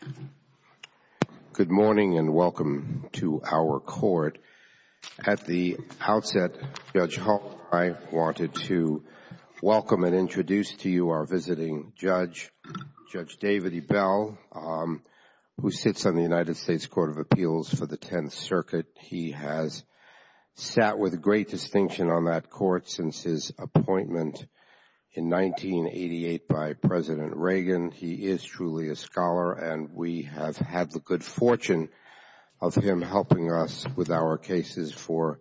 Court of Appeals. Good morning and welcome to our court. At the outset, Judge Hall and I wanted to welcome and introduce to you our visiting judge, Judge David E. Bell, who sits on the United States Court of Appeals for the Tenth Circuit. He has sat with great distinction on that court since his appointment in 1988 by President Reagan. He is truly a scholar and we have had the good fortune of him helping us with our cases for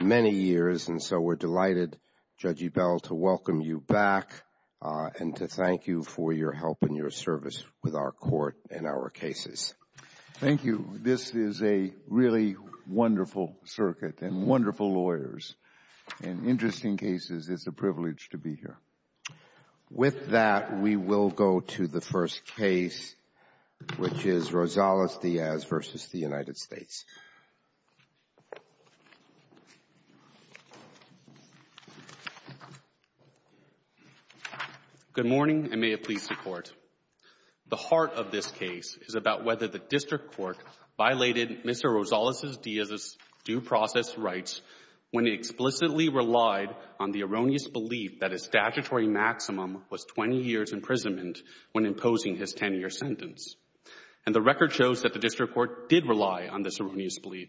many years. And so we're delighted, Judge E. Bell, to welcome you back and to thank you for your help and your service with our court and our cases. Thank you. This is a really wonderful circuit and wonderful lawyers. In interesting cases, it's a privilege to be here. With that, we will go to the first case, which is Rosales-Diaz v. United States. Good morning and may it please the Court. The heart of this case is about whether the district court violated Mr. Rosales-Diaz's due process rights when he explicitly relied on the erroneous belief that his statutory maximum was 20 years' imprisonment when imposing his 10-year sentence. And the record shows that the district court did rely on this erroneous belief.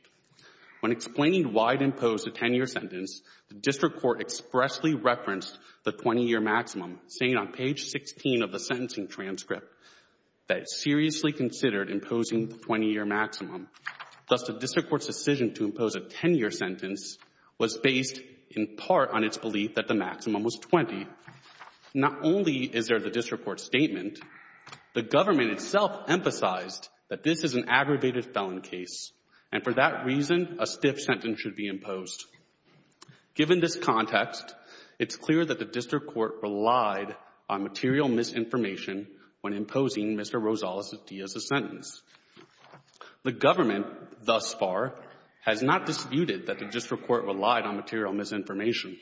When explaining why it imposed a 10-year sentence, the district court expressly referenced the 20-year maximum, saying on page 16 of the sentencing transcript that it seriously considered imposing the 20-year maximum, thus the district court's decision to impose a 10-year sentence was based in part on its belief that the maximum was 20. Not only is there the district court's statement, the government itself emphasized that this is an aggravated felon case, and for that reason, a stiff sentence should be imposed. Given this context, it's clear that the district court relied on material misinformation when imposing Mr. Rosales-Diaz's sentence. The government thus far has not disputed that the district court relied on material misinformation.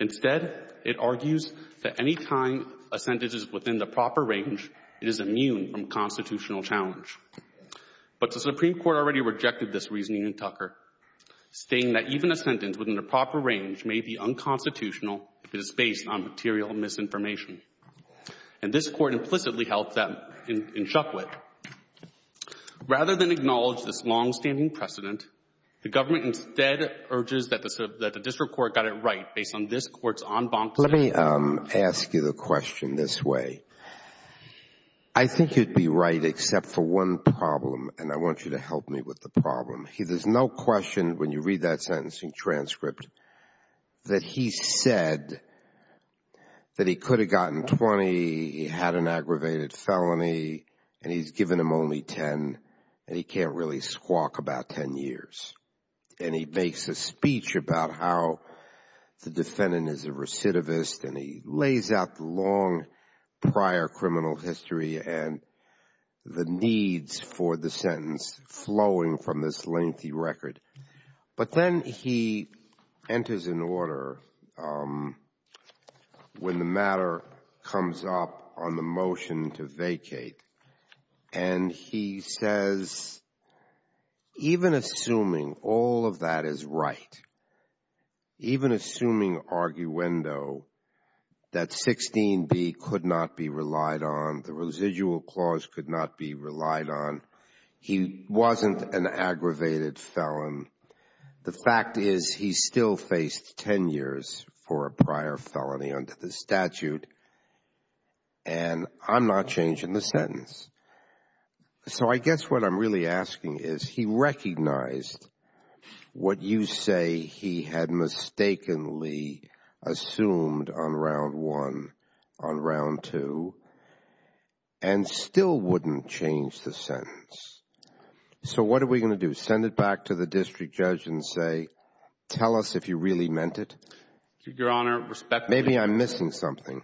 Instead, it argues that any time a sentence is within the proper range, it is immune from constitutional challenge. But the Supreme Court already rejected this reasoning in Tucker, stating that even a sentence within the proper range may be unconstitutional if it is based on material misinformation. And this court implicitly held that in Chukwit. Rather than acknowledge this long-standing precedent, the government instead urges that the district court got it right based on this court's en banc. Let me ask you the question this way. I think you'd be right except for one problem, and I want you to help me with the problem. There's no question when you read that sentencing transcript that he said that he could have gotten 20, he had an aggravated felony, and he's given him only 10, and he can't really squawk about 10 years. And he makes a speech about how the defendant is a recidivist, and he lays out the long prior criminal history and the needs for the sentence flowing from this lengthy record. But then he enters an order when the matter comes up on the motion to vacate, and he says, even assuming all of that is right, even assuming arguendo, that 16b could not be relied on, the residual clause could not be relied on, he wasn't an aggravated felon. The fact is he still faced 10 years for a prior felony under the statute, and I'm not changing the sentence. So I guess what I'm really asking is, he recognized what you say he had mistakenly assumed on round two and still wouldn't change the sentence. So what are we going to do? Send it back to the district judge and say, tell us if you really meant it? Your Honor, respectfully — Maybe I'm missing something.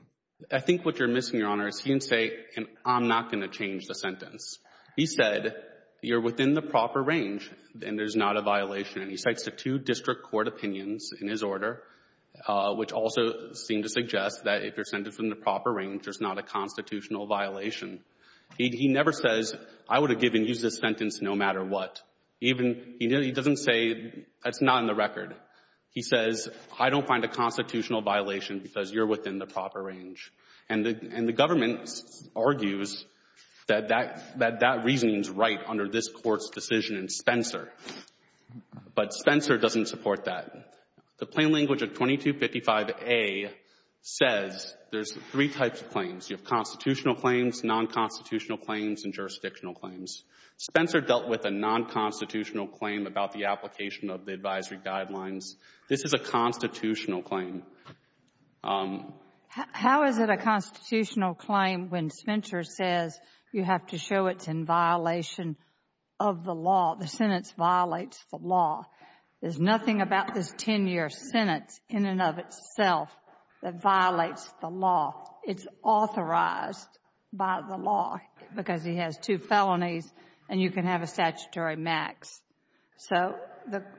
I think what you're missing, Your Honor, is he can say, I'm not going to change the sentence. He said, you're within the proper range and there's not a violation, and he cites the two district court opinions in his order, which also seem to suggest that if you're within the proper range, there's not a constitutional violation. He never says, I would have given you this sentence no matter what. He doesn't say, that's not in the record. He says, I don't find a constitutional violation because you're within the proper range. And the government argues that that reasoning is right under this Court's decision in Spencer. But Spencer doesn't support that. The plain language of 2255A says there's three types of claims. You have constitutional claims, non-constitutional claims, and jurisdictional claims. Spencer dealt with a non-constitutional claim about the application of the advisory guidelines. This is a constitutional claim. How is it a constitutional claim when Spencer says you have to show it's in violation of the law? The sentence violates the law. There's nothing about this 10-year sentence in and of itself that violates the law. It's authorized by the law because he has two felonies and you can have a statutory max. So,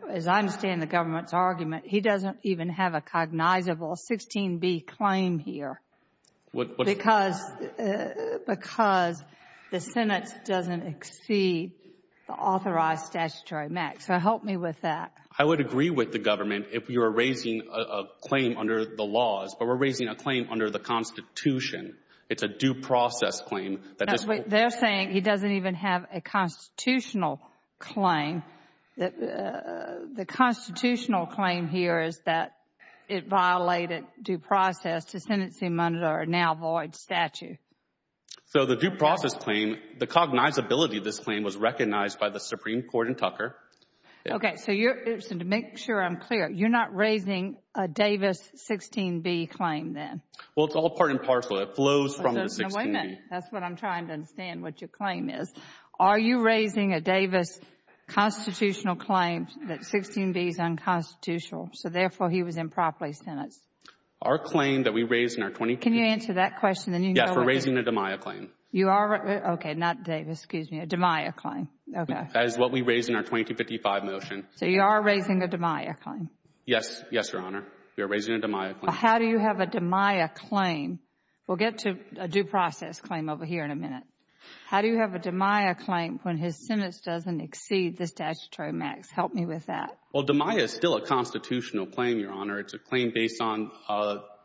as I understand the government's argument, he doesn't even have a cognizable 16B claim here because the sentence doesn't exceed the authorized statutory max. So help me with that. I would agree with the government if you're raising a claim under the laws, but we're raising a claim under the Constitution. It's a due process claim. They're saying he doesn't even have a constitutional claim. The constitutional claim here is that it violated due process to sentence him under a now void statute. So, the due process claim, the cognizability of this claim was recognized by the Supreme Court in Tucker. Okay. So, to make sure I'm clear, you're not raising a Davis 16B claim then? Well, it's all part and parcel. It flows from the 16B. That's what I'm trying to understand, what your claim is. Are you raising a Davis constitutional claim that 16B is unconstitutional, so therefore he was improperly sentenced? Our claim that we raised in our 2015. Can you answer that question? Yes, we're raising a DMIA claim. You are? Okay, not Davis. Excuse me. A DMIA claim. Okay. That is what we raised in our 2055 motion. So, you are raising a DMIA claim? Yes. Yes, Your Honor. We are raising a DMIA claim. Well, how do you have a DMIA claim? We'll get to a due process claim over here in a minute. How do you have a DMIA claim when his sentence doesn't exceed the statutory max? Help me with that. Well, DMIA is still a constitutional claim, Your Honor. It's a claim based on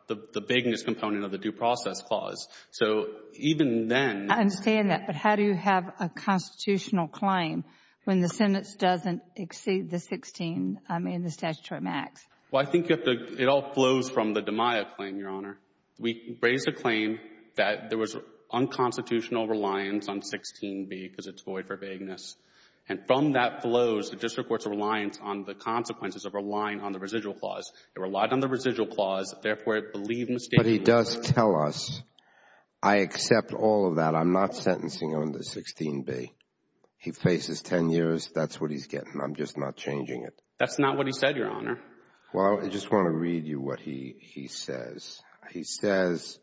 the vagueness component of the due process clause. So, even then — I understand that. But how do you have a constitutional claim? Well, I think you have to — it all flows from the DMIA claim, Your Honor. We raised a claim that there was unconstitutional reliance on 16B because it's void for vagueness. And from that flows, the district court's reliance on the consequences of relying on the residual clause. It relied on the residual clause, therefore, it believed mistakenly — But he does tell us, I accept all of that. I'm not sentencing under 16B. He faces 10 years. That's what he's getting. I'm just not changing it. That's not what he said, Your Honor. Well, I just want to read you what he says. He says,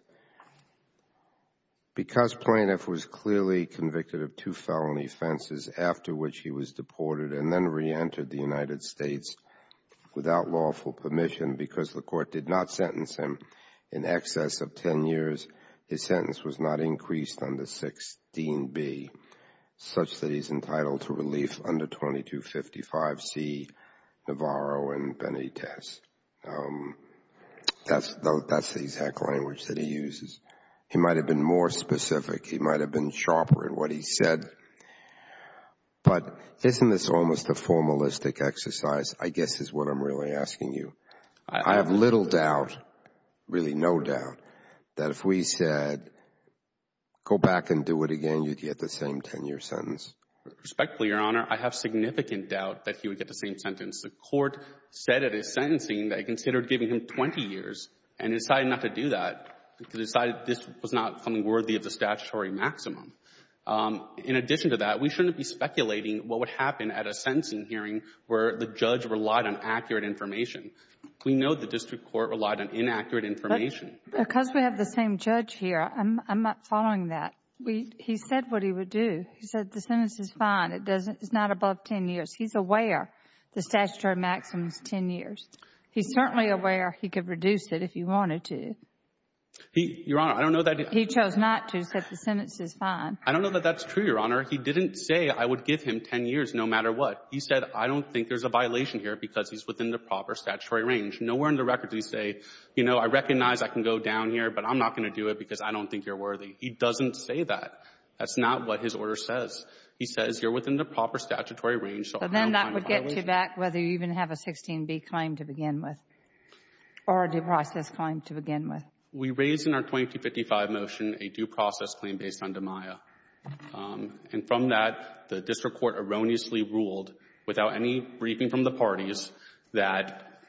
Because plaintiff was clearly convicted of two felony offenses after which he was deported and then reentered the United States without lawful permission because the court did not such that he's entitled to relief under 2255C Navarro and Benitez. That's the exact language that he uses. He might have been more specific. He might have been sharper in what he said. But isn't this almost a formalistic exercise, I guess is what I'm really asking you. I have little doubt, really no doubt, that if we said, go back and do it again, you'd get the same 10-year sentence. Respectfully, Your Honor, I have significant doubt that he would get the same sentence. The court said at his sentencing that it considered giving him 20 years and decided not to do that because it decided this was not something worthy of the statutory maximum. In addition to that, we shouldn't be speculating what would happen at a sentencing hearing where the judge relied on accurate information. We know the district court relied on inaccurate information. Because we have the same judge here, I'm not following that. He said what he would do. He said the sentence is fine. It's not above 10 years. He's aware the statutory maximum is 10 years. He's certainly aware he could reduce it if he wanted to. Your Honor, I don't know that he — He chose not to. He said the sentence is fine. I don't know that that's true, Your Honor. He didn't say, I would give him 10 years no matter what. He said, I don't think there's a violation here because he's within the proper statutory range. Nowhere in the records does he say, you know, I recognize I can go down here, but I'm not going to do it because I don't think you're worthy. He doesn't say that. That's not what his order says. He says you're within the proper statutory range, so I don't find a violation. But then that would get you back whether you even have a 16B claim to begin with or a due process claim to begin with. We raised in our 2255 motion a due process claim based on DMIA. And from that, the district court erroneously ruled, without any briefing from the parties, that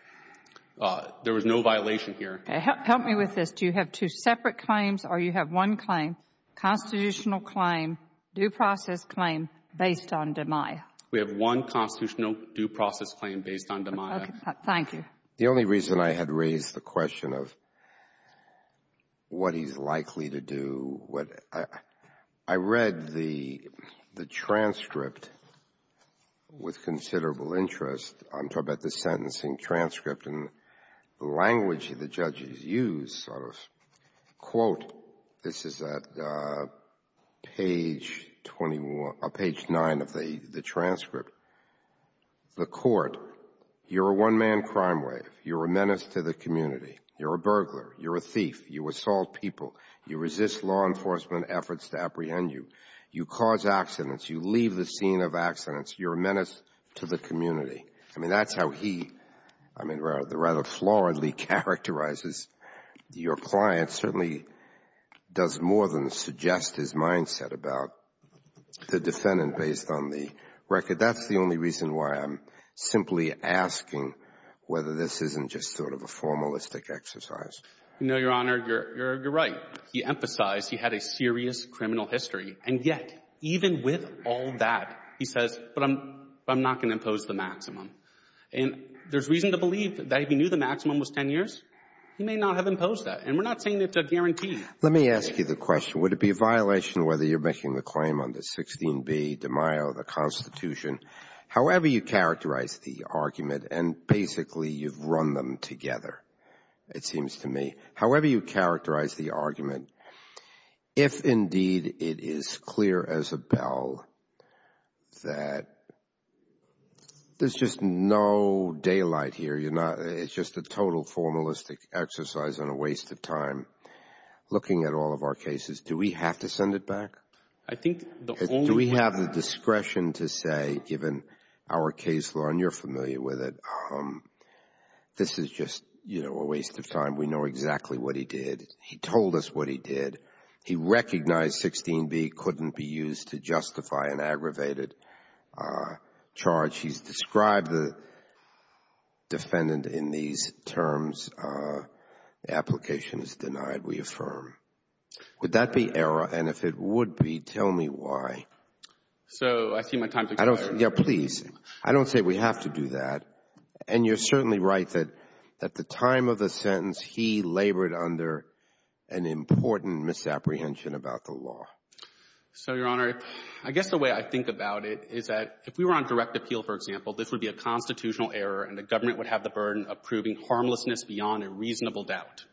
there was no violation here. Help me with this. Do you have two separate claims, or you have one claim, constitutional claim, due process claim, based on DMIA? We have one constitutional due process claim based on DMIA. Thank you. The only reason I had raised the question of what he's likely to do, what I read the transcript with considerable interest, I'm talking about the sentencing transcript and the language the judges use, sort of, quote, this is at page 21 or page 9 of the transcript, the court, you're a one-man crime wave. You're a menace to the community. You're a burglar. You're a thief. You assault people. You resist law enforcement efforts to apprehend you. You cause accidents. You leave the scene of accidents. You're a menace to the community. I mean, that's how he, I mean, rather floridly characterizes your client. Certainly does more than suggest his mindset about the defendant based on the record. That's the only reason why I'm simply asking whether this isn't just sort of a formalistic exercise. No, Your Honor, you're right. He emphasized he had a serious criminal history, and yet, even with all that, he says, but I'm not going to impose the maximum. And there's reason to believe that if he knew the maximum was 10 years, he may not have imposed that. And we're not saying it's a guarantee. Let me ask you the question. Would it be a violation whether you're making the claim on the 16b de Mayo, the Constitution, however you characterize the argument, and basically, you've run them together, it seems to me, however you characterize the argument, if indeed it is clear as a bell that there's just no daylight here, you're not, it's just a total formalistic exercise and a waste of time looking at all of our cases. Do we have to send it back? I think the only... Do we have the discretion to say, given our case law, and you're familiar with it, this is just, you know, a waste of time. We know exactly what he did. He told us what he did. He recognized 16b couldn't be used to justify an aggravated charge. He's described the defendant in these terms, application is denied. We affirm. Would that be error? And if it would be, tell me why. So I see my time's expired. Yeah, please. I don't say we have to do that. And you're certainly right that at the time of the sentence, he labored under an important misapprehension about the law. So Your Honor, I guess the way I think about it is that if we were on direct appeal, for example, this would be a constitutional error, and the government would have the burden of proving harmlessness beyond a reasonable doubt.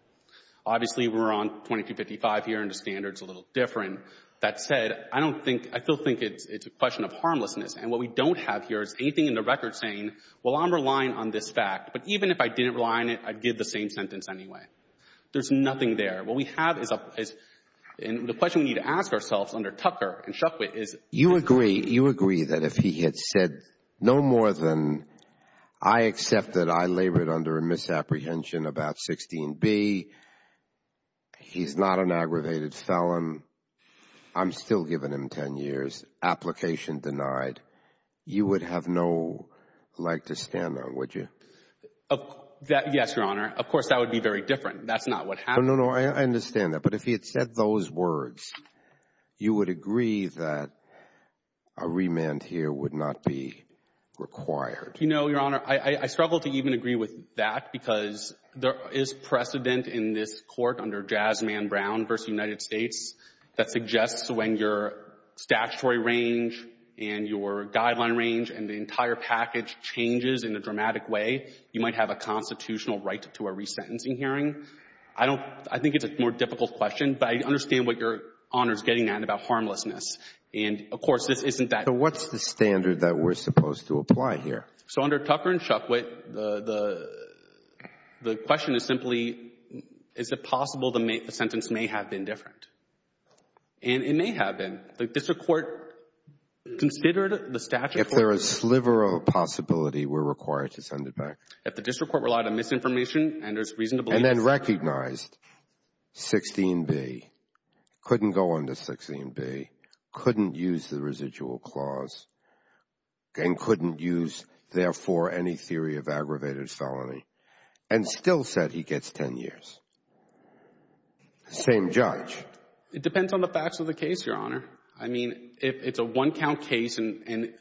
Obviously, we're on 2255 here, and the standard's a little different. That said, I don't think, I still think it's a question of harmlessness, and what we don't have here is anything in the record saying, well, I'm relying on this fact, but even if I didn't rely on it, I'd give the same sentence anyway. There's nothing there. What we have is a, and the question we need to ask ourselves under Tucker and Shukwit is- You agree, you agree that if he had said no more than I accept that I labored under a misapprehension about 16b, he's not an aggravated felon, I'm still giving him 10 years, application denied. You would have no leg to stand on, would you? Yes, Your Honor. Of course, that would be very different. That's not what happened. No, no, no. I understand that. But if he had said those words, you would agree that a remand here would not be required? You know, Your Honor, I struggle to even agree with that because there is precedent in this Court under Jasmine Brown v. United States that suggests when your statutory range and your guideline range and the entire package changes in a dramatic way, you might have a constitutional right to a resentencing hearing. I don't, I think it's a more difficult question, but I understand what Your Honor is getting at about harmlessness. And of course, this isn't that- So what's the standard that we're supposed to apply here? So under Tucker and Shukwit, the question is simply, is it possible the sentence may have been different? And it may have been. The district court considered the statute? If there is a sliver of possibility, we're required to send it back. If the district court relied on misinformation and there's reason to believe- And then recognized 16b, couldn't go under 16b, couldn't use the residual clause, and couldn't use, therefore, any theory of aggravated felony, and still said he gets 10 years. Same judge. It depends on the facts of the case, Your Honor. I mean, it's a one-count case and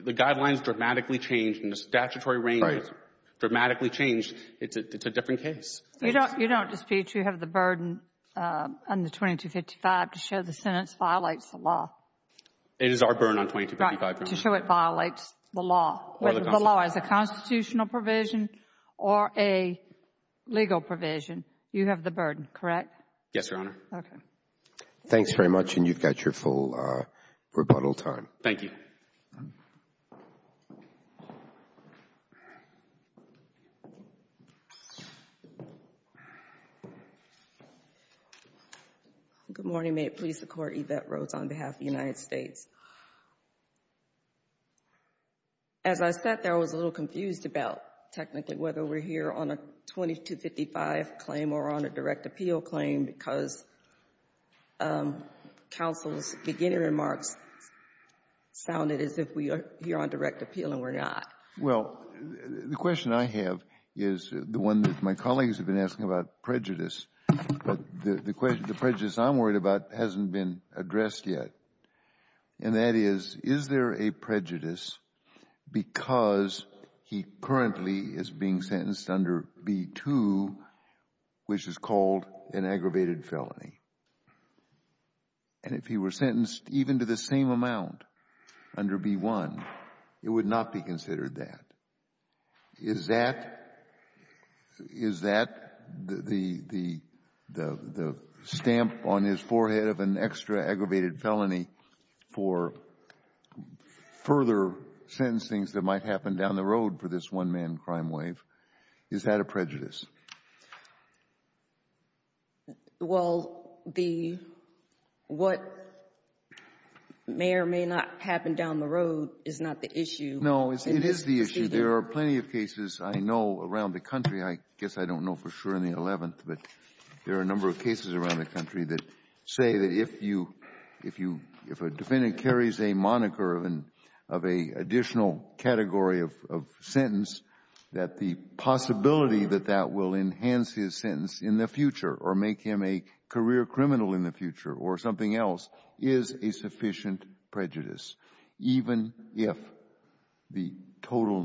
the guidelines dramatically changed and the statutory range dramatically changed. It's a different case. You don't dispute you have the burden on the 2255 to show the sentence violates the law? It is our burden on 2255. To show it violates the law, whether the law is a constitutional provision or a legal provision, you have the burden, correct? Yes, Your Honor. Okay. Thanks very much, and you've got your full rebuttal time. Thank you. Good morning. May it please the Court, Yvette Rhodes on behalf of the United States. As I sat there, I was a little confused about technically whether we're here on a 2255 claim or on a direct appeal claim, because counsel's beginning remarks sounded as if we are here on direct appeal, and we're not. Well, the question I have is the one that my colleagues have been asking about prejudice, but the prejudice I'm worried about hasn't been addressed yet, and that is, is there a prejudice because he currently is being sentenced under B-2, which is called an aggravated felony? And if he were sentenced even to the same amount under B-1, it would not be considered that. Is that, is that the stamp on his forehead of an extra aggravated felony for further sentencing that might happen down the road for this one-man crime wave? Is that a prejudice? Well, the what may or may not happen down the road is not the issue. No, it is the issue. There are plenty of cases I know around the country, I guess I don't know for sure in the 11th, but there are a number of cases around the country that say that if you, if you, if a defendant carries a moniker of an, of an additional category of, of sentence, that the possibility that that will enhance his sentence in the future or make him a career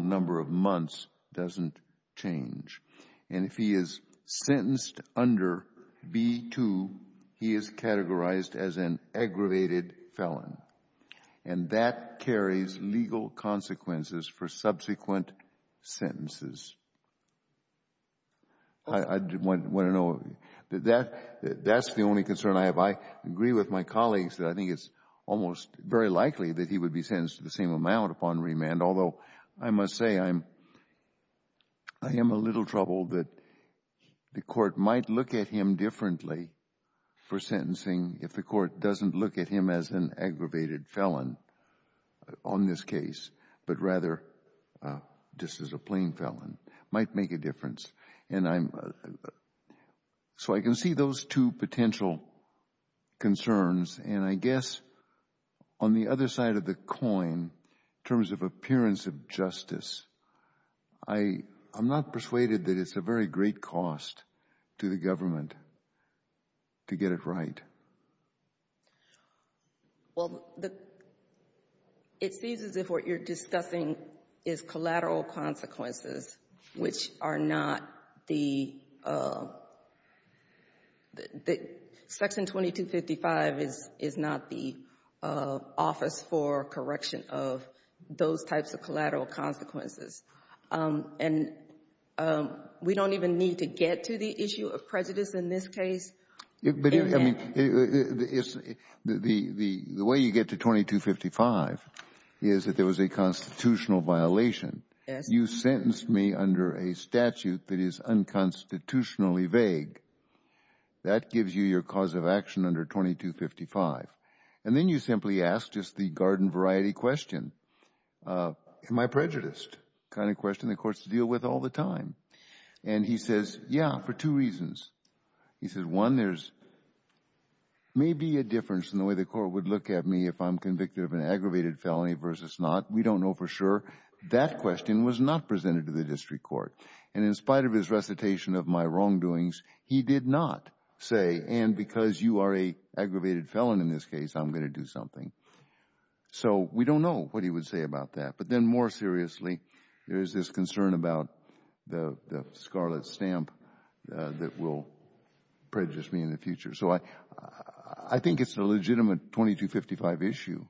number of months doesn't change. And if he is sentenced under B-2, he is categorized as an aggravated felon, and that carries legal consequences for subsequent sentences. I want to know, that, that is the only concern I have. I agree with my colleagues that I think it is almost very likely that he would be sentenced to the same amount upon remand, although I must say I am, I am a little troubled that the Court might look at him differently for sentencing if the Court doesn't look at him as an aggravated felon on this case, but rather just as a plain felon, might make a difference. And I am, so I can see those two potential concerns. And I guess on the other side of the coin, in terms of appearance of justice, I, I am not persuaded that it is a very great cost to the government to get it right. Well, the, it seems as if what you are discussing is collateral consequences, which are not the, Section 2255 is, is not the office for correction of those types of collateral consequences. And we don't even need to get to the issue of prejudice in this case. But, I mean, it's, the, the, the way you get to 2255 is that there was a constitutional violation. Yes. You sentenced me under a statute that is unconstitutionally vague. That gives you your cause of action under 2255. And then you simply ask just the garden variety question, am I prejudiced, kind of question the Court's to deal with all the time. And he says, yeah, for two reasons. He says, one, there's maybe a difference in the way the Court would look at me if I'm convicted of an aggravated felony versus not. We don't know for sure. That question was not presented to the District Court. And in spite of his recitation of my wrongdoings, he did not say, and because you are a aggravated felon in this case, I'm going to do something. So we don't know what he would say about that. But then more seriously, there is this concern about the, the scarlet stamp that will prejudice me in the future. So I, I think it's a legitimate 2255 issue.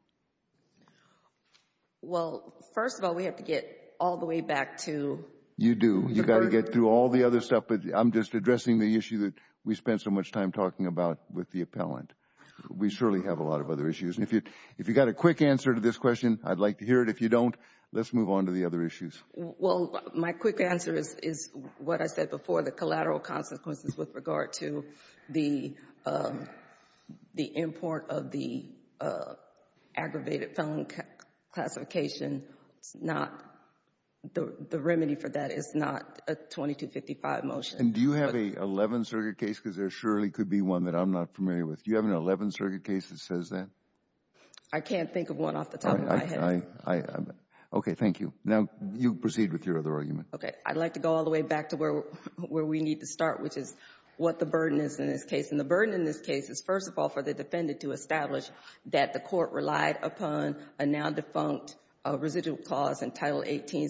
Well, first of all, we have to get all the way back to. You do. You've got to get through all the other stuff, but I'm just addressing the issue that we spent so much time talking about with the appellant. We surely have a lot of other issues. And if you, if you've got a quick answer to this question, I'd like to hear it. If you don't, let's move on to the other issues. Well, my quick answer is, is what I said before, the collateral consequences with regard to the, the import of the aggravated felon classification, it's not, the remedy for that is not a 2255 motion. And do you have a 11-circuit case, because there surely could be one that I'm not familiar with. Do you have an 11-circuit case that says that? I can't think of one off the top of my head. Okay. Thank you. Now you proceed with your other argument. Okay. I'd like to go all the way back to where, where we need to start, which is what the burden in this case. And the burden in this case is, first of all, for the defendant to establish that the Court relied upon a now-defunct residual clause in Title 18,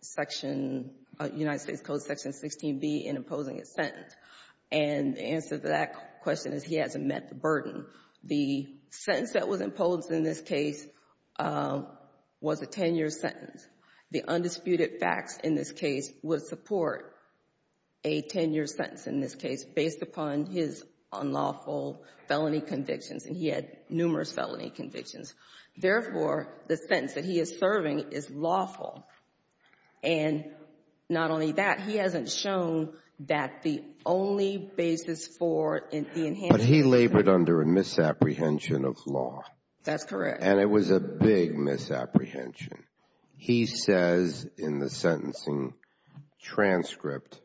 Section, United States Code, Section 16b in imposing its sentence. And the answer to that question is he hasn't met the burden. The sentence that was imposed in this case was a 10-year sentence. The undisputed facts in this case would support a 10-year sentence in this case, based upon his unlawful felony convictions, and he had numerous felony convictions. Therefore, the sentence that he is serving is lawful. And not only that, he hasn't shown that the only basis for the enhancement of the sentence But he labored under a misapprehension of law. That's correct. And it was a big misapprehension. He says in the sentencing transcript,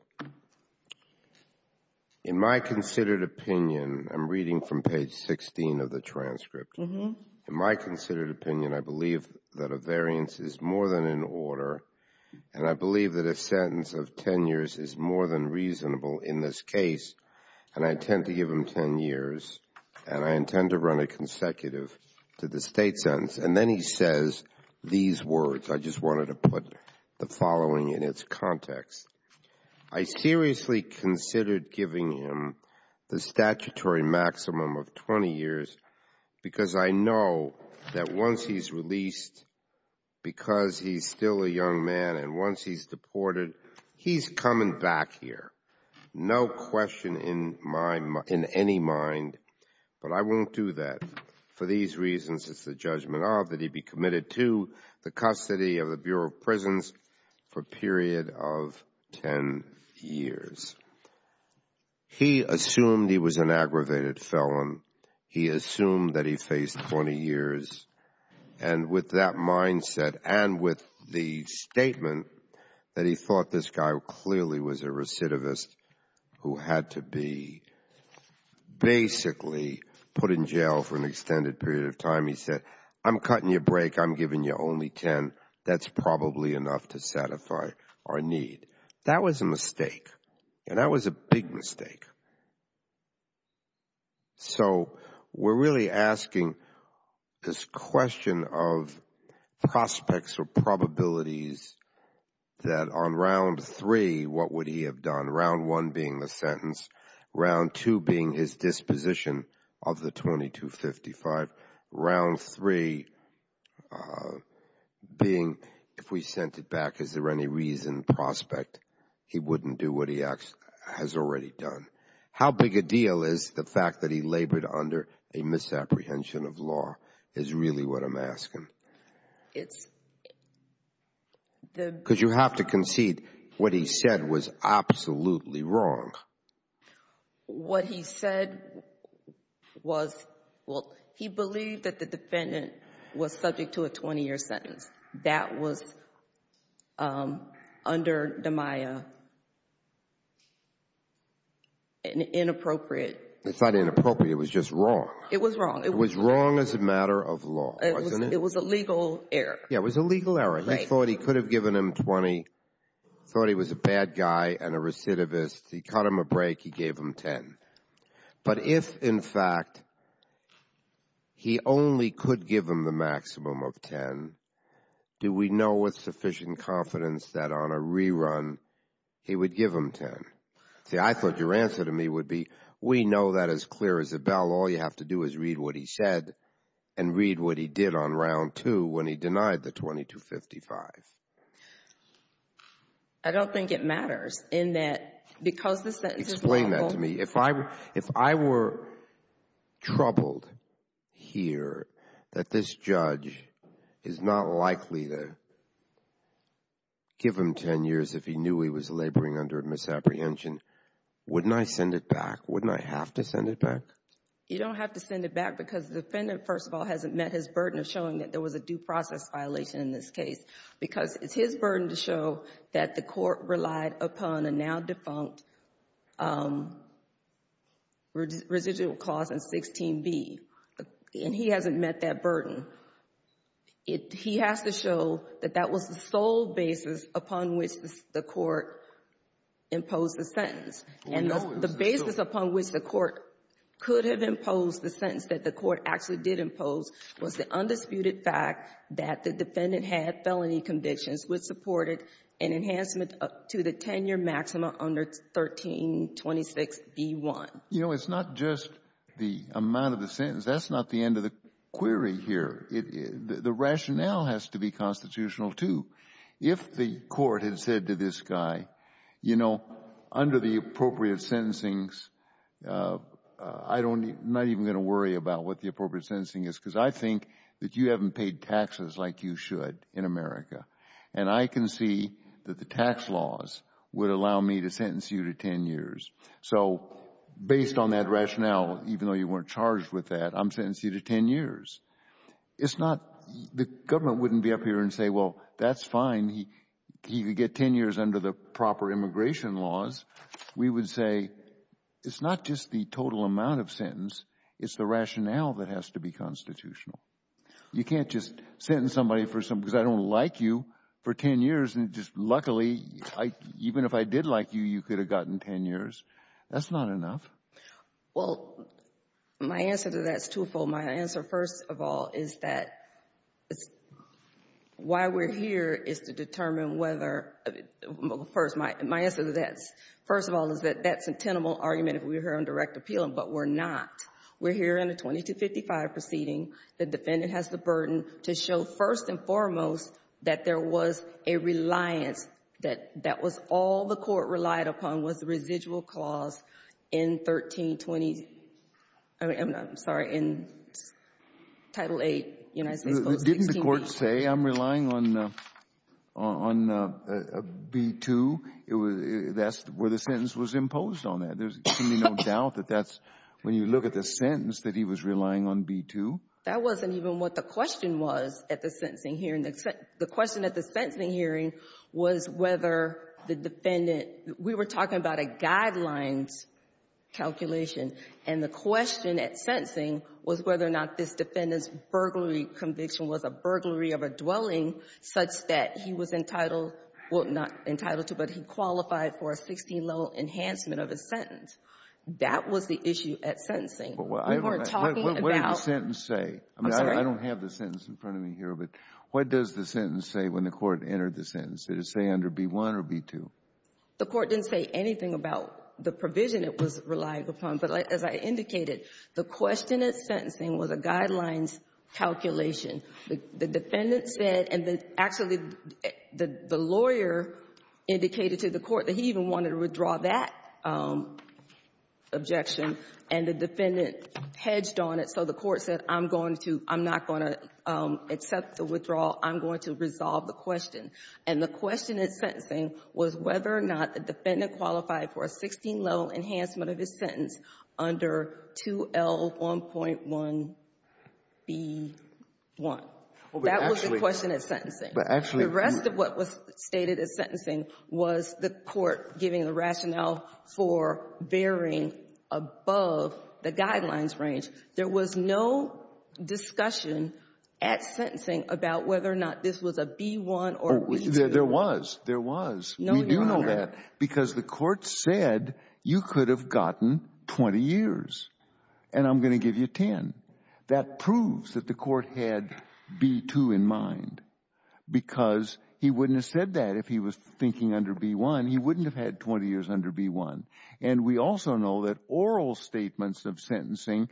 In my considered opinion, I'm reading from page 16 of the transcript. In my considered opinion, I believe that a variance is more than an order, and I believe that a sentence of 10 years is more than reasonable in this case. And I intend to give him 10 years, and I intend to run a consecutive to the state sentence. And then he says these words. I just wanted to put the following in its context. I seriously considered giving him the statutory maximum of 20 years, because I know that once he's released, because he's still a young man, and once he's deported, he's coming back here. No question in my mind, in any mind, but I won't do that. For these reasons, it's the judgment of that he be committed to the custody of the Bureau of Prisons for a period of 10 years. He assumed he was an aggravated felon. He assumed that he faced 20 years. And with that mindset, and with the statement that he thought this guy clearly was a recidivist who had to be basically put in jail for an extended period of time, he said, I'm cutting your break. I'm giving you only 10. That's probably enough to satisfy our need. That was a mistake, and that was a big mistake. So we're really asking this question of prospects or probabilities that on round three, what would he have done? Round one being the sentence, round two being his disposition of the 2255, round three being if we sent it back, is there any reason, prospect, he wouldn't do what he has already done? How big a deal is the fact that he labored under a misapprehension of law is really what I'm asking? Because you have to concede what he said was absolutely wrong. What he said was, well, he believed that the defendant was subject to a 20-year sentence. That was under the Maya an inappropriate... It's not inappropriate. It was just wrong. It was wrong. It was wrong as a matter of law, wasn't it? It was a legal error. Yeah, it was a legal error. He thought he could have given him 20, thought he was a bad guy and a recidivist. He cut him a break. He gave him 10. But if, in fact, he only could give him the maximum of 10, do we know with sufficient confidence that on a rerun, he would give him 10? See, I thought your answer to me would be, we know that as clear as a bell. All you have to do is read what he said and read what he did on round two when he denied the $2,255,000. I don't think it matters in that... Explain that to me. If I were troubled here that this judge is not likely to give him 10 years if he knew he was laboring under a misapprehension, wouldn't I send it back? Wouldn't I have to send it back? You don't have to send it back because the defendant, first of all, hasn't met his burden of showing that there was a due process violation in this case because it's his burden to show that the court relied upon a now-defunct residual clause in 16B, and he hasn't met that burden. He has to show that that was the sole basis upon which the court imposed the sentence. And the basis upon which the court could have imposed the sentence that the court actually did impose was the undisputed fact that the defendant had felony convictions which supported an enhancement to the 10-year maximum under 1326B1. You know, it's not just the amount of the sentence. That's not the end of the query here. The rationale has to be constitutional, too. If the court had said to this guy, you know, under the appropriate sentencings, I'm not even going to worry about what the appropriate sentencing is because I think that you haven't paid taxes like you should in America, and I can see that the tax laws would allow me to sentence you to 10 years. So based on that rationale, even though you weren't charged with that, I'm sentencing you to 10 years. It's not, the government wouldn't be up here and say, well, that's fine, he could get 10 years under the proper immigration laws. We would say, it's not just the total amount of sentence, it's the rationale that has to be constitutional. You can't just sentence somebody for something, because I don't like you, for 10 years and just luckily, even if I did like you, you could have gotten 10 years. That's not enough. Well, my answer to that is twofold. My answer, first of all, is that why we're here is to determine whether, first, my answer to that, first of all, is that that's a tenable argument if we were here on direct appeal, but we're not. We're here in a 2255 proceeding, the defendant has the burden to show, first and foremost, that there was a reliance, that that was all the court relied upon was the residual clause in 1320, I'm sorry, in Title VIII, United States Post 168. Didn't the court say, I'm relying on B2? That's where the sentence was imposed on that. There's to me no doubt that that's, when you look at the sentence, that he was relying on B2. That wasn't even what the question was at the sentencing hearing. The question at the sentencing hearing was whether the defendant, we were talking about a guidelines calculation, and the question at sentencing was whether or not this defendant's burglary conviction was a burglary of a dwelling such that he was entitled, well, not entitled to, but he qualified for a 16-level enhancement of his sentence. That was the issue at sentencing. We weren't talking about — What did the sentence say? I'm sorry. I don't have the sentence in front of me here, but what does the sentence say when the court entered the sentence? Did it say under B1 or B2? The court didn't say anything about the provision it was relying upon, but as I indicated, the question at sentencing was a guidelines calculation. The defendant said, and actually, the lawyer indicated to the court that he even wanted to withdraw that objection, and the defendant hedged on it, so the court said, I'm going to, I'm not going to accept the withdrawal, I'm going to resolve the question. And the question at sentencing was whether or not the defendant qualified for a 16-level enhancement of his sentence under 2L1.1B1. That was the question at sentencing. But actually — The rest of what was stated at sentencing was the court giving the rationale for varying above the guidelines range. There was no discussion at sentencing about whether or not this was a B1 or B2. There was. No, Your Honor. We do know that because the court said you could have gotten 20 years, and I'm going to give you 10. That proves that the court had B2 in mind because he wouldn't have said that if he was thinking under B1. He wouldn't have had 20 years under B1. And we also know that oral statements of sentencing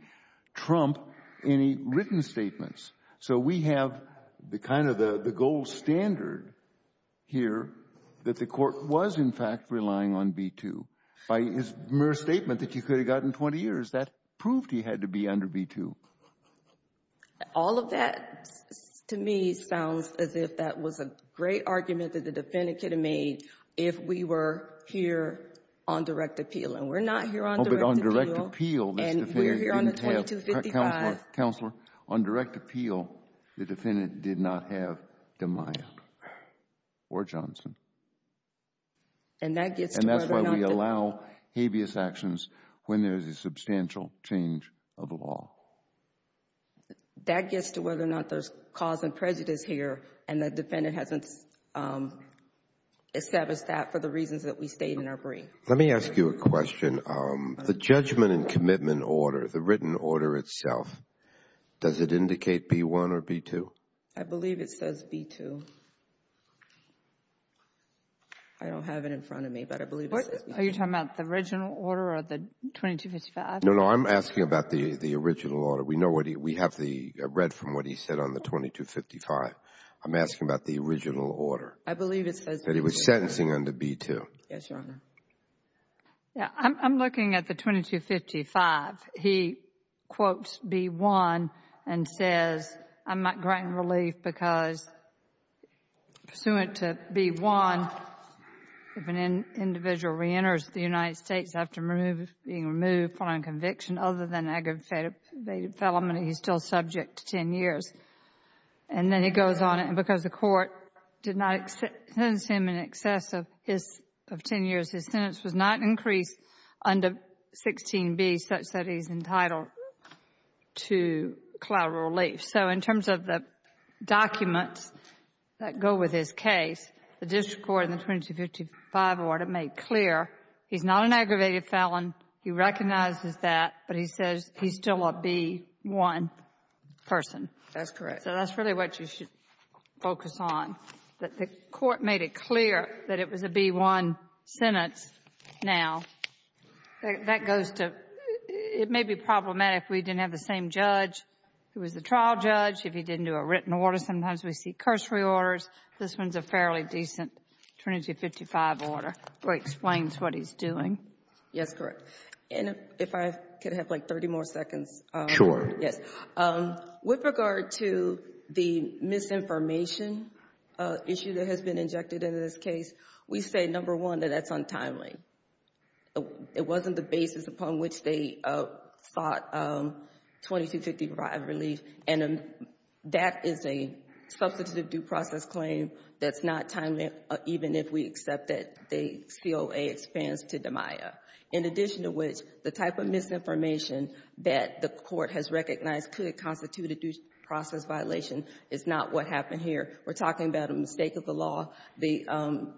trump any written statements. So we have the kind of the gold standard here that the court was, in fact, relying on B2. By his mere statement that you could have gotten 20 years, that proved he had to be under B2. All of that, to me, sounds as if that was a great argument that the defendant could have made if we were here on direct appeal. And we're not here on direct appeal. Oh, but on direct appeal, this defendant didn't have — And we're here on the 2255. Counselor, counselor. On direct appeal, the defendant did not have DeMayo or Johnson. And that gets to whether or not — And that's why we allow habeas actions when there's a substantial change of law. That gets to whether or not there's cause and prejudice here, and the defendant hasn't established that for the reasons that we state in our brief. Let me ask you a question. The judgment and commitment order, the written order itself, does it indicate B1 or B2? I believe it says B2. I don't have it in front of me, but I believe it says B2. Are you talking about the original order or the 2255? No, no. I'm asking about the original order. We know what he — we have the — read from what he said on the 2255. I'm asking about the original order. I believe it says B2. That he was sentencing under B2. Yes, Your Honor. I'm looking at the 2255. He quotes B1 and says, I might grant relief because, pursuant to B1, if an individual reenters the United States after being removed for non-conviction other than aggravated felony, he's still subject to ten years. And then he goes on, because the court did not sentence him in excess of ten years, his sentence was not increased under 16B such that he's entitled to collateral relief. So in terms of the documents that go with his case, the district court in the 2255 order made clear he's not an aggravated felon, he recognizes that, but he says he's still a B1 person. That's correct. So that's really what you should focus on, that the court made it clear that it was a B1 sentence. Now, that goes to — it may be problematic if we didn't have the same judge who was the trial judge. If he didn't do a written order, sometimes we see cursory orders. This one's a fairly decent Trinity 55 order. It explains what he's doing. Yes, correct. And if I could have, like, 30 more seconds. Sure. Yes. With regard to the misinformation issue that has been injected into this case, we say, number one, that that's untimely. It wasn't the basis upon which they sought 2255 relief, and that is a substantive due process claim that's not timely, even if we accept that the COA expands to DMIA. In addition to which, the type of misinformation that the court has recognized could constitute a due process violation is not what happened here. We're talking about a mistake of the law. The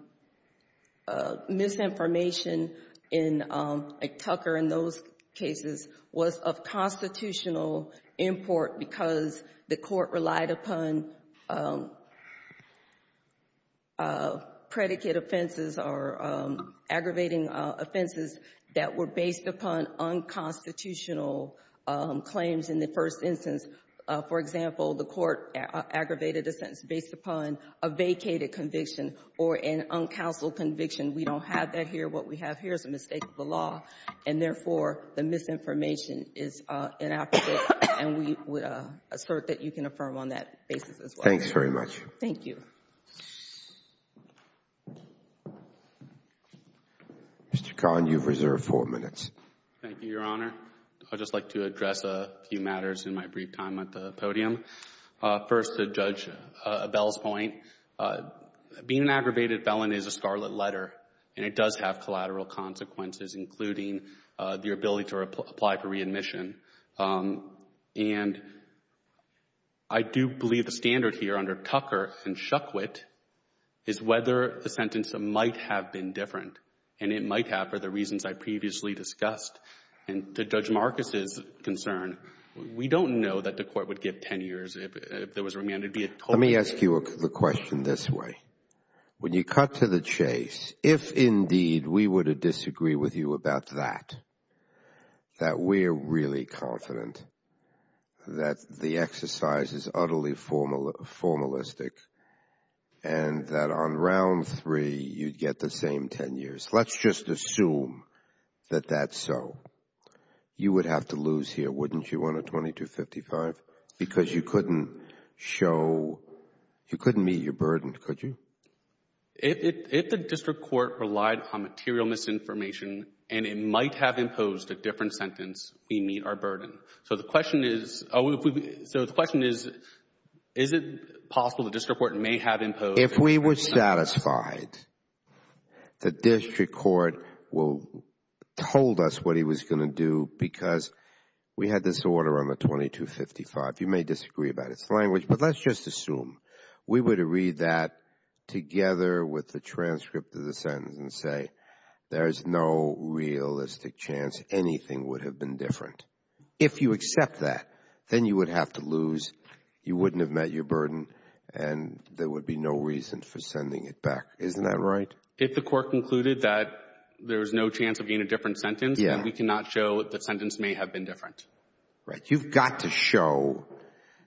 misinformation in Tucker in those cases was of constitutional import because the court relied upon predicate offenses or aggravating offenses that were based upon unconstitutional claims in the first instance. For example, the court aggravated a sentence based upon a vacated conviction or an uncounseled conviction. We don't have that here. What we have here is a mistake of the law, and therefore, the misinformation is inaccurate, and we assert that you can affirm on that basis as well. Thanks very much. Thank you. Mr. Kahn, you've reserved four minutes. Thank you, Your Honor. I'd just like to address a few matters in my brief time at the podium. First, to Judge Bell's point, being an aggravated felon is a scarlet letter, and it does have collateral consequences, including the ability to apply for readmission. And I do believe the standard here under Tucker and Shukwit is whether the sentence might have been different, and it might have for the reasons I previously discussed. And to Judge Marcus' concern, we don't know that the court would give 10 years if there was remand. Let me ask you the question this way. When you cut to the chase, if indeed we were to disagree with you about that, that we're really confident that the exercise is utterly formalistic, and that on round three, you'd get the same 10 years. Let's just assume that that's so. You would have to lose here, wouldn't you, on a 2255? Because you couldn't show, you couldn't meet your burden, could you? If the district court relied on material misinformation, and it might have imposed a different sentence, we meet our burden. So the question is, is it possible the district court may have imposed? If we were satisfied, the district court told us what he was going to do because we had this order on the 2255. You may disagree about its language, but let's just assume we were to read that together with the transcript of the sentence and say, there's no realistic chance anything would have been different. If you accept that, then you would have to lose, you wouldn't have met your burden, and there would be no reason for sending it back. Isn't that right? If the court concluded that there was no chance of being a different sentence, we cannot show that the sentence may have been different. Right. You've got to show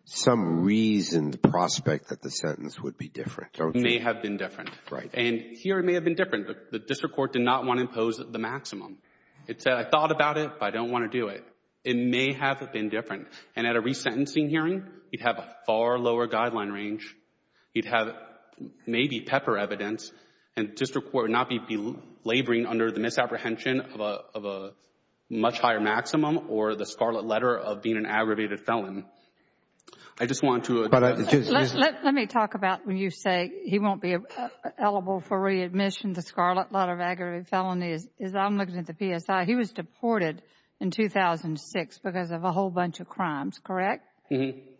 some reasoned prospect that the sentence would be different, don't you? It may have been different. Right. And here it may have been different, but the district court did not want to impose the maximum. It said, I thought about it, but I don't want to do it. It may have been different. And at a resentencing hearing, you'd have a far lower guideline range. You'd have maybe pepper evidence, and the district court would not be laboring under the misapprehension of a much higher maximum or the scarlet letter of being an aggravated felon. I just want to— Let me talk about when you say he won't be eligible for readmission. The scarlet letter of aggravated felony, as I'm looking at the PSI, he was deported in 2006 because of a whole bunch of crimes, correct?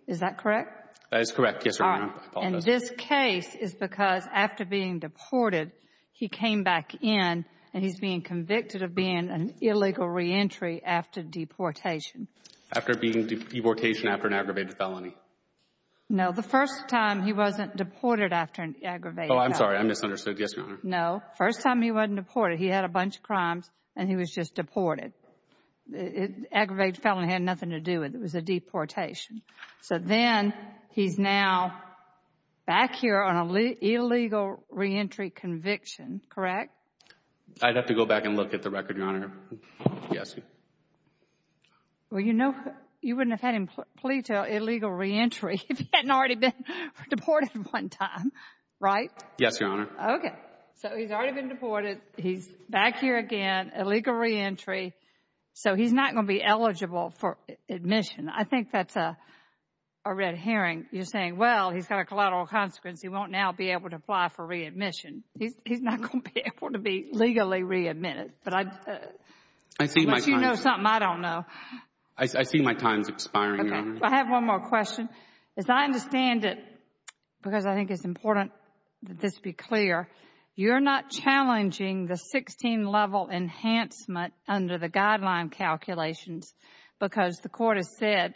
Is that correct? That is correct, yes, Your Honor. And this case is because after being deported, he came back in, and he's being convicted of being an illegal reentry after deportation. After being deportation after an aggravated felony. No, the first time he wasn't deported after an aggravated felony. Oh, I'm sorry. I misunderstood. Yes, Your Honor. No. First time he wasn't deported, he had a bunch of crimes, and he was just deported. Aggravated felony had nothing to do with it. It was a deportation. So then he's now back here on an illegal reentry conviction, correct? I'd have to go back and look at the record, Your Honor. Yes. Well, you know, you wouldn't have had him plead to illegal reentry if he hadn't already been deported one time, right? Yes, Your Honor. Okay. So he's already been deported. He's back here again, illegal reentry. So he's not going to be eligible for admission. I think that's a red herring. You're saying, well, he's got a collateral consequence. He won't now be able to apply for readmission. He's not going to be able to be legally readmitted. But I'd let you know something I don't know. I see my time's expiring, Your Honor. I have one more question. As I understand it, because I think it's important that this be clear, you're not challenging the 16-level enhancement under the guideline calculations because the Court has said,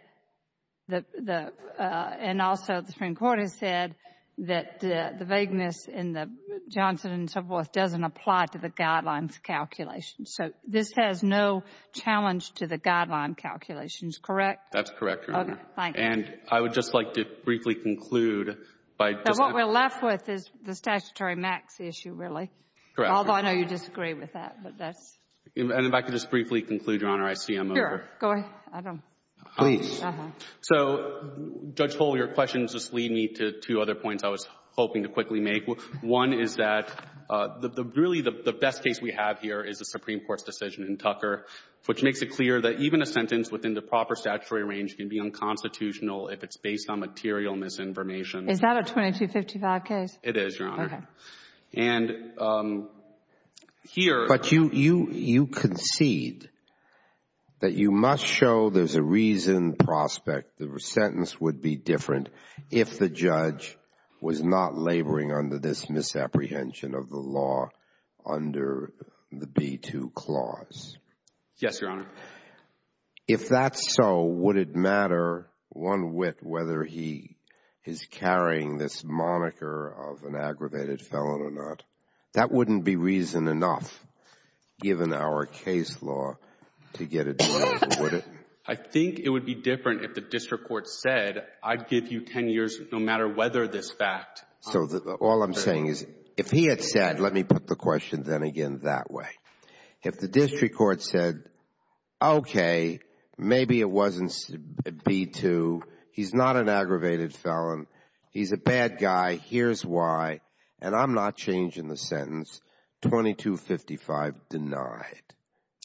and also the Supreme Court has said, that the vagueness in the Johnson and so forth doesn't apply to the guidelines calculations. So this has no challenge to the guideline calculations, correct? That's correct, Your Honor. Okay. Thank you. And I would just like to briefly conclude by just— What we're left with is the statutory max issue, really. Correct. Although I know you disagree with that, but that's— And if I could just briefly conclude, Your Honor. I see I'm over. Sure. Go ahead. I don't— Please. So, Judge Hull, your questions just lead me to two other points I was hoping to quickly make. One is that really the best case we have here is the Supreme Court's decision in Tucker, which makes it clear that even a sentence within the proper statutory range can be unconstitutional if it's based on material misinformation. Is that a 2255 case? It is, Your Honor. Okay. And here— You concede that you must show there's a reason, prospect, the sentence would be different if the judge was not laboring under this misapprehension of the law under the B-2 Clause. Yes, Your Honor. If that's so, would it matter one whit whether he is carrying this moniker of an aggravated felon or not? That wouldn't be reason enough, given our case law, to get it over, would it? I think it would be different if the district court said, I'd give you 10 years no matter whether this fact— So, all I'm saying is, if he had said— Let me put the question then again that way. If the district court said, okay, maybe it wasn't B-2, he's not an aggravated felon, he's a bad guy, here's why, and I'm not changing the sentence, 2255 denied.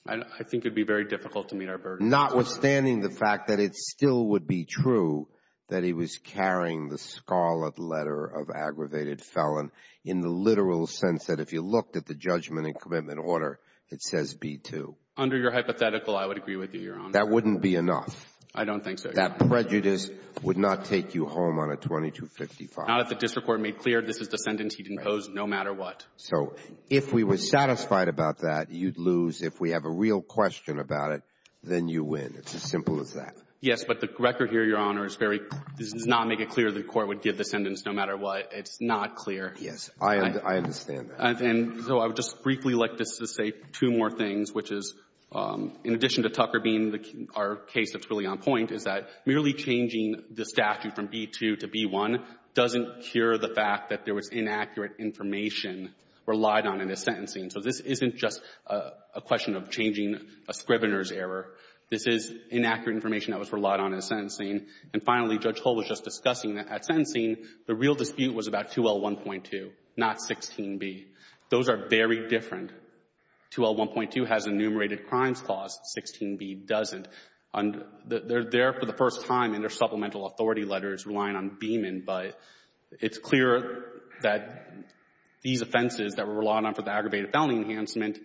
I think it would be very difficult to meet our burden. Notwithstanding the fact that it still would be true that he was carrying the scarlet letter of aggravated felon in the literal sense that if you looked at the judgment and commitment order, it says B-2. Under your hypothetical, I would agree with you, Your Honor. That wouldn't be enough. I don't think so, Your Honor. That prejudice would not take you home on a 2255. Not if the district court made clear this is the sentence he'd impose no matter what. So, if we were satisfied about that, you'd lose. If we have a real question about it, then you win. It's as simple as that. Yes. But the record here, Your Honor, is very—does not make it clear the court would give the sentence no matter what. It's not clear. Yes. I understand that. And so I would just briefly like to say two more things, which is, in addition to Tucker being our case that's really on point, is that merely changing the statute from B-2 to B-1 doesn't cure the fact that there was inaccurate information relied on in his sentencing. So this isn't just a question of changing a scrivener's error. This is inaccurate information that was relied on in his sentencing. And finally, Judge Hull was just discussing that at sentencing, the real dispute was about 2L1.2, not 16B. Those are very different. 2L1.2 has a enumerated crimes clause. 16B doesn't. They're there for the first time in their supplemental authority letters relying on Beaman, but it's clear that these offenses that were relied on for the aggravated felony enhancement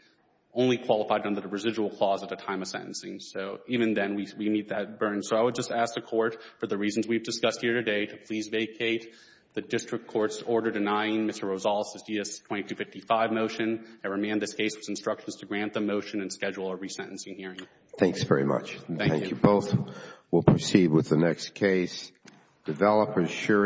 only qualified under the residual clause at the time of sentencing. So even then, we meet that burden. So I would just ask the Court, for the reasons we've discussed here today, to please vacate the district court's order denying Mr. Rosales' DS-2255 motion. I remand this case's instructions to grant the motion and schedule a resentencing hearing. Thanks very much. Thank you. Both will proceed with the next case.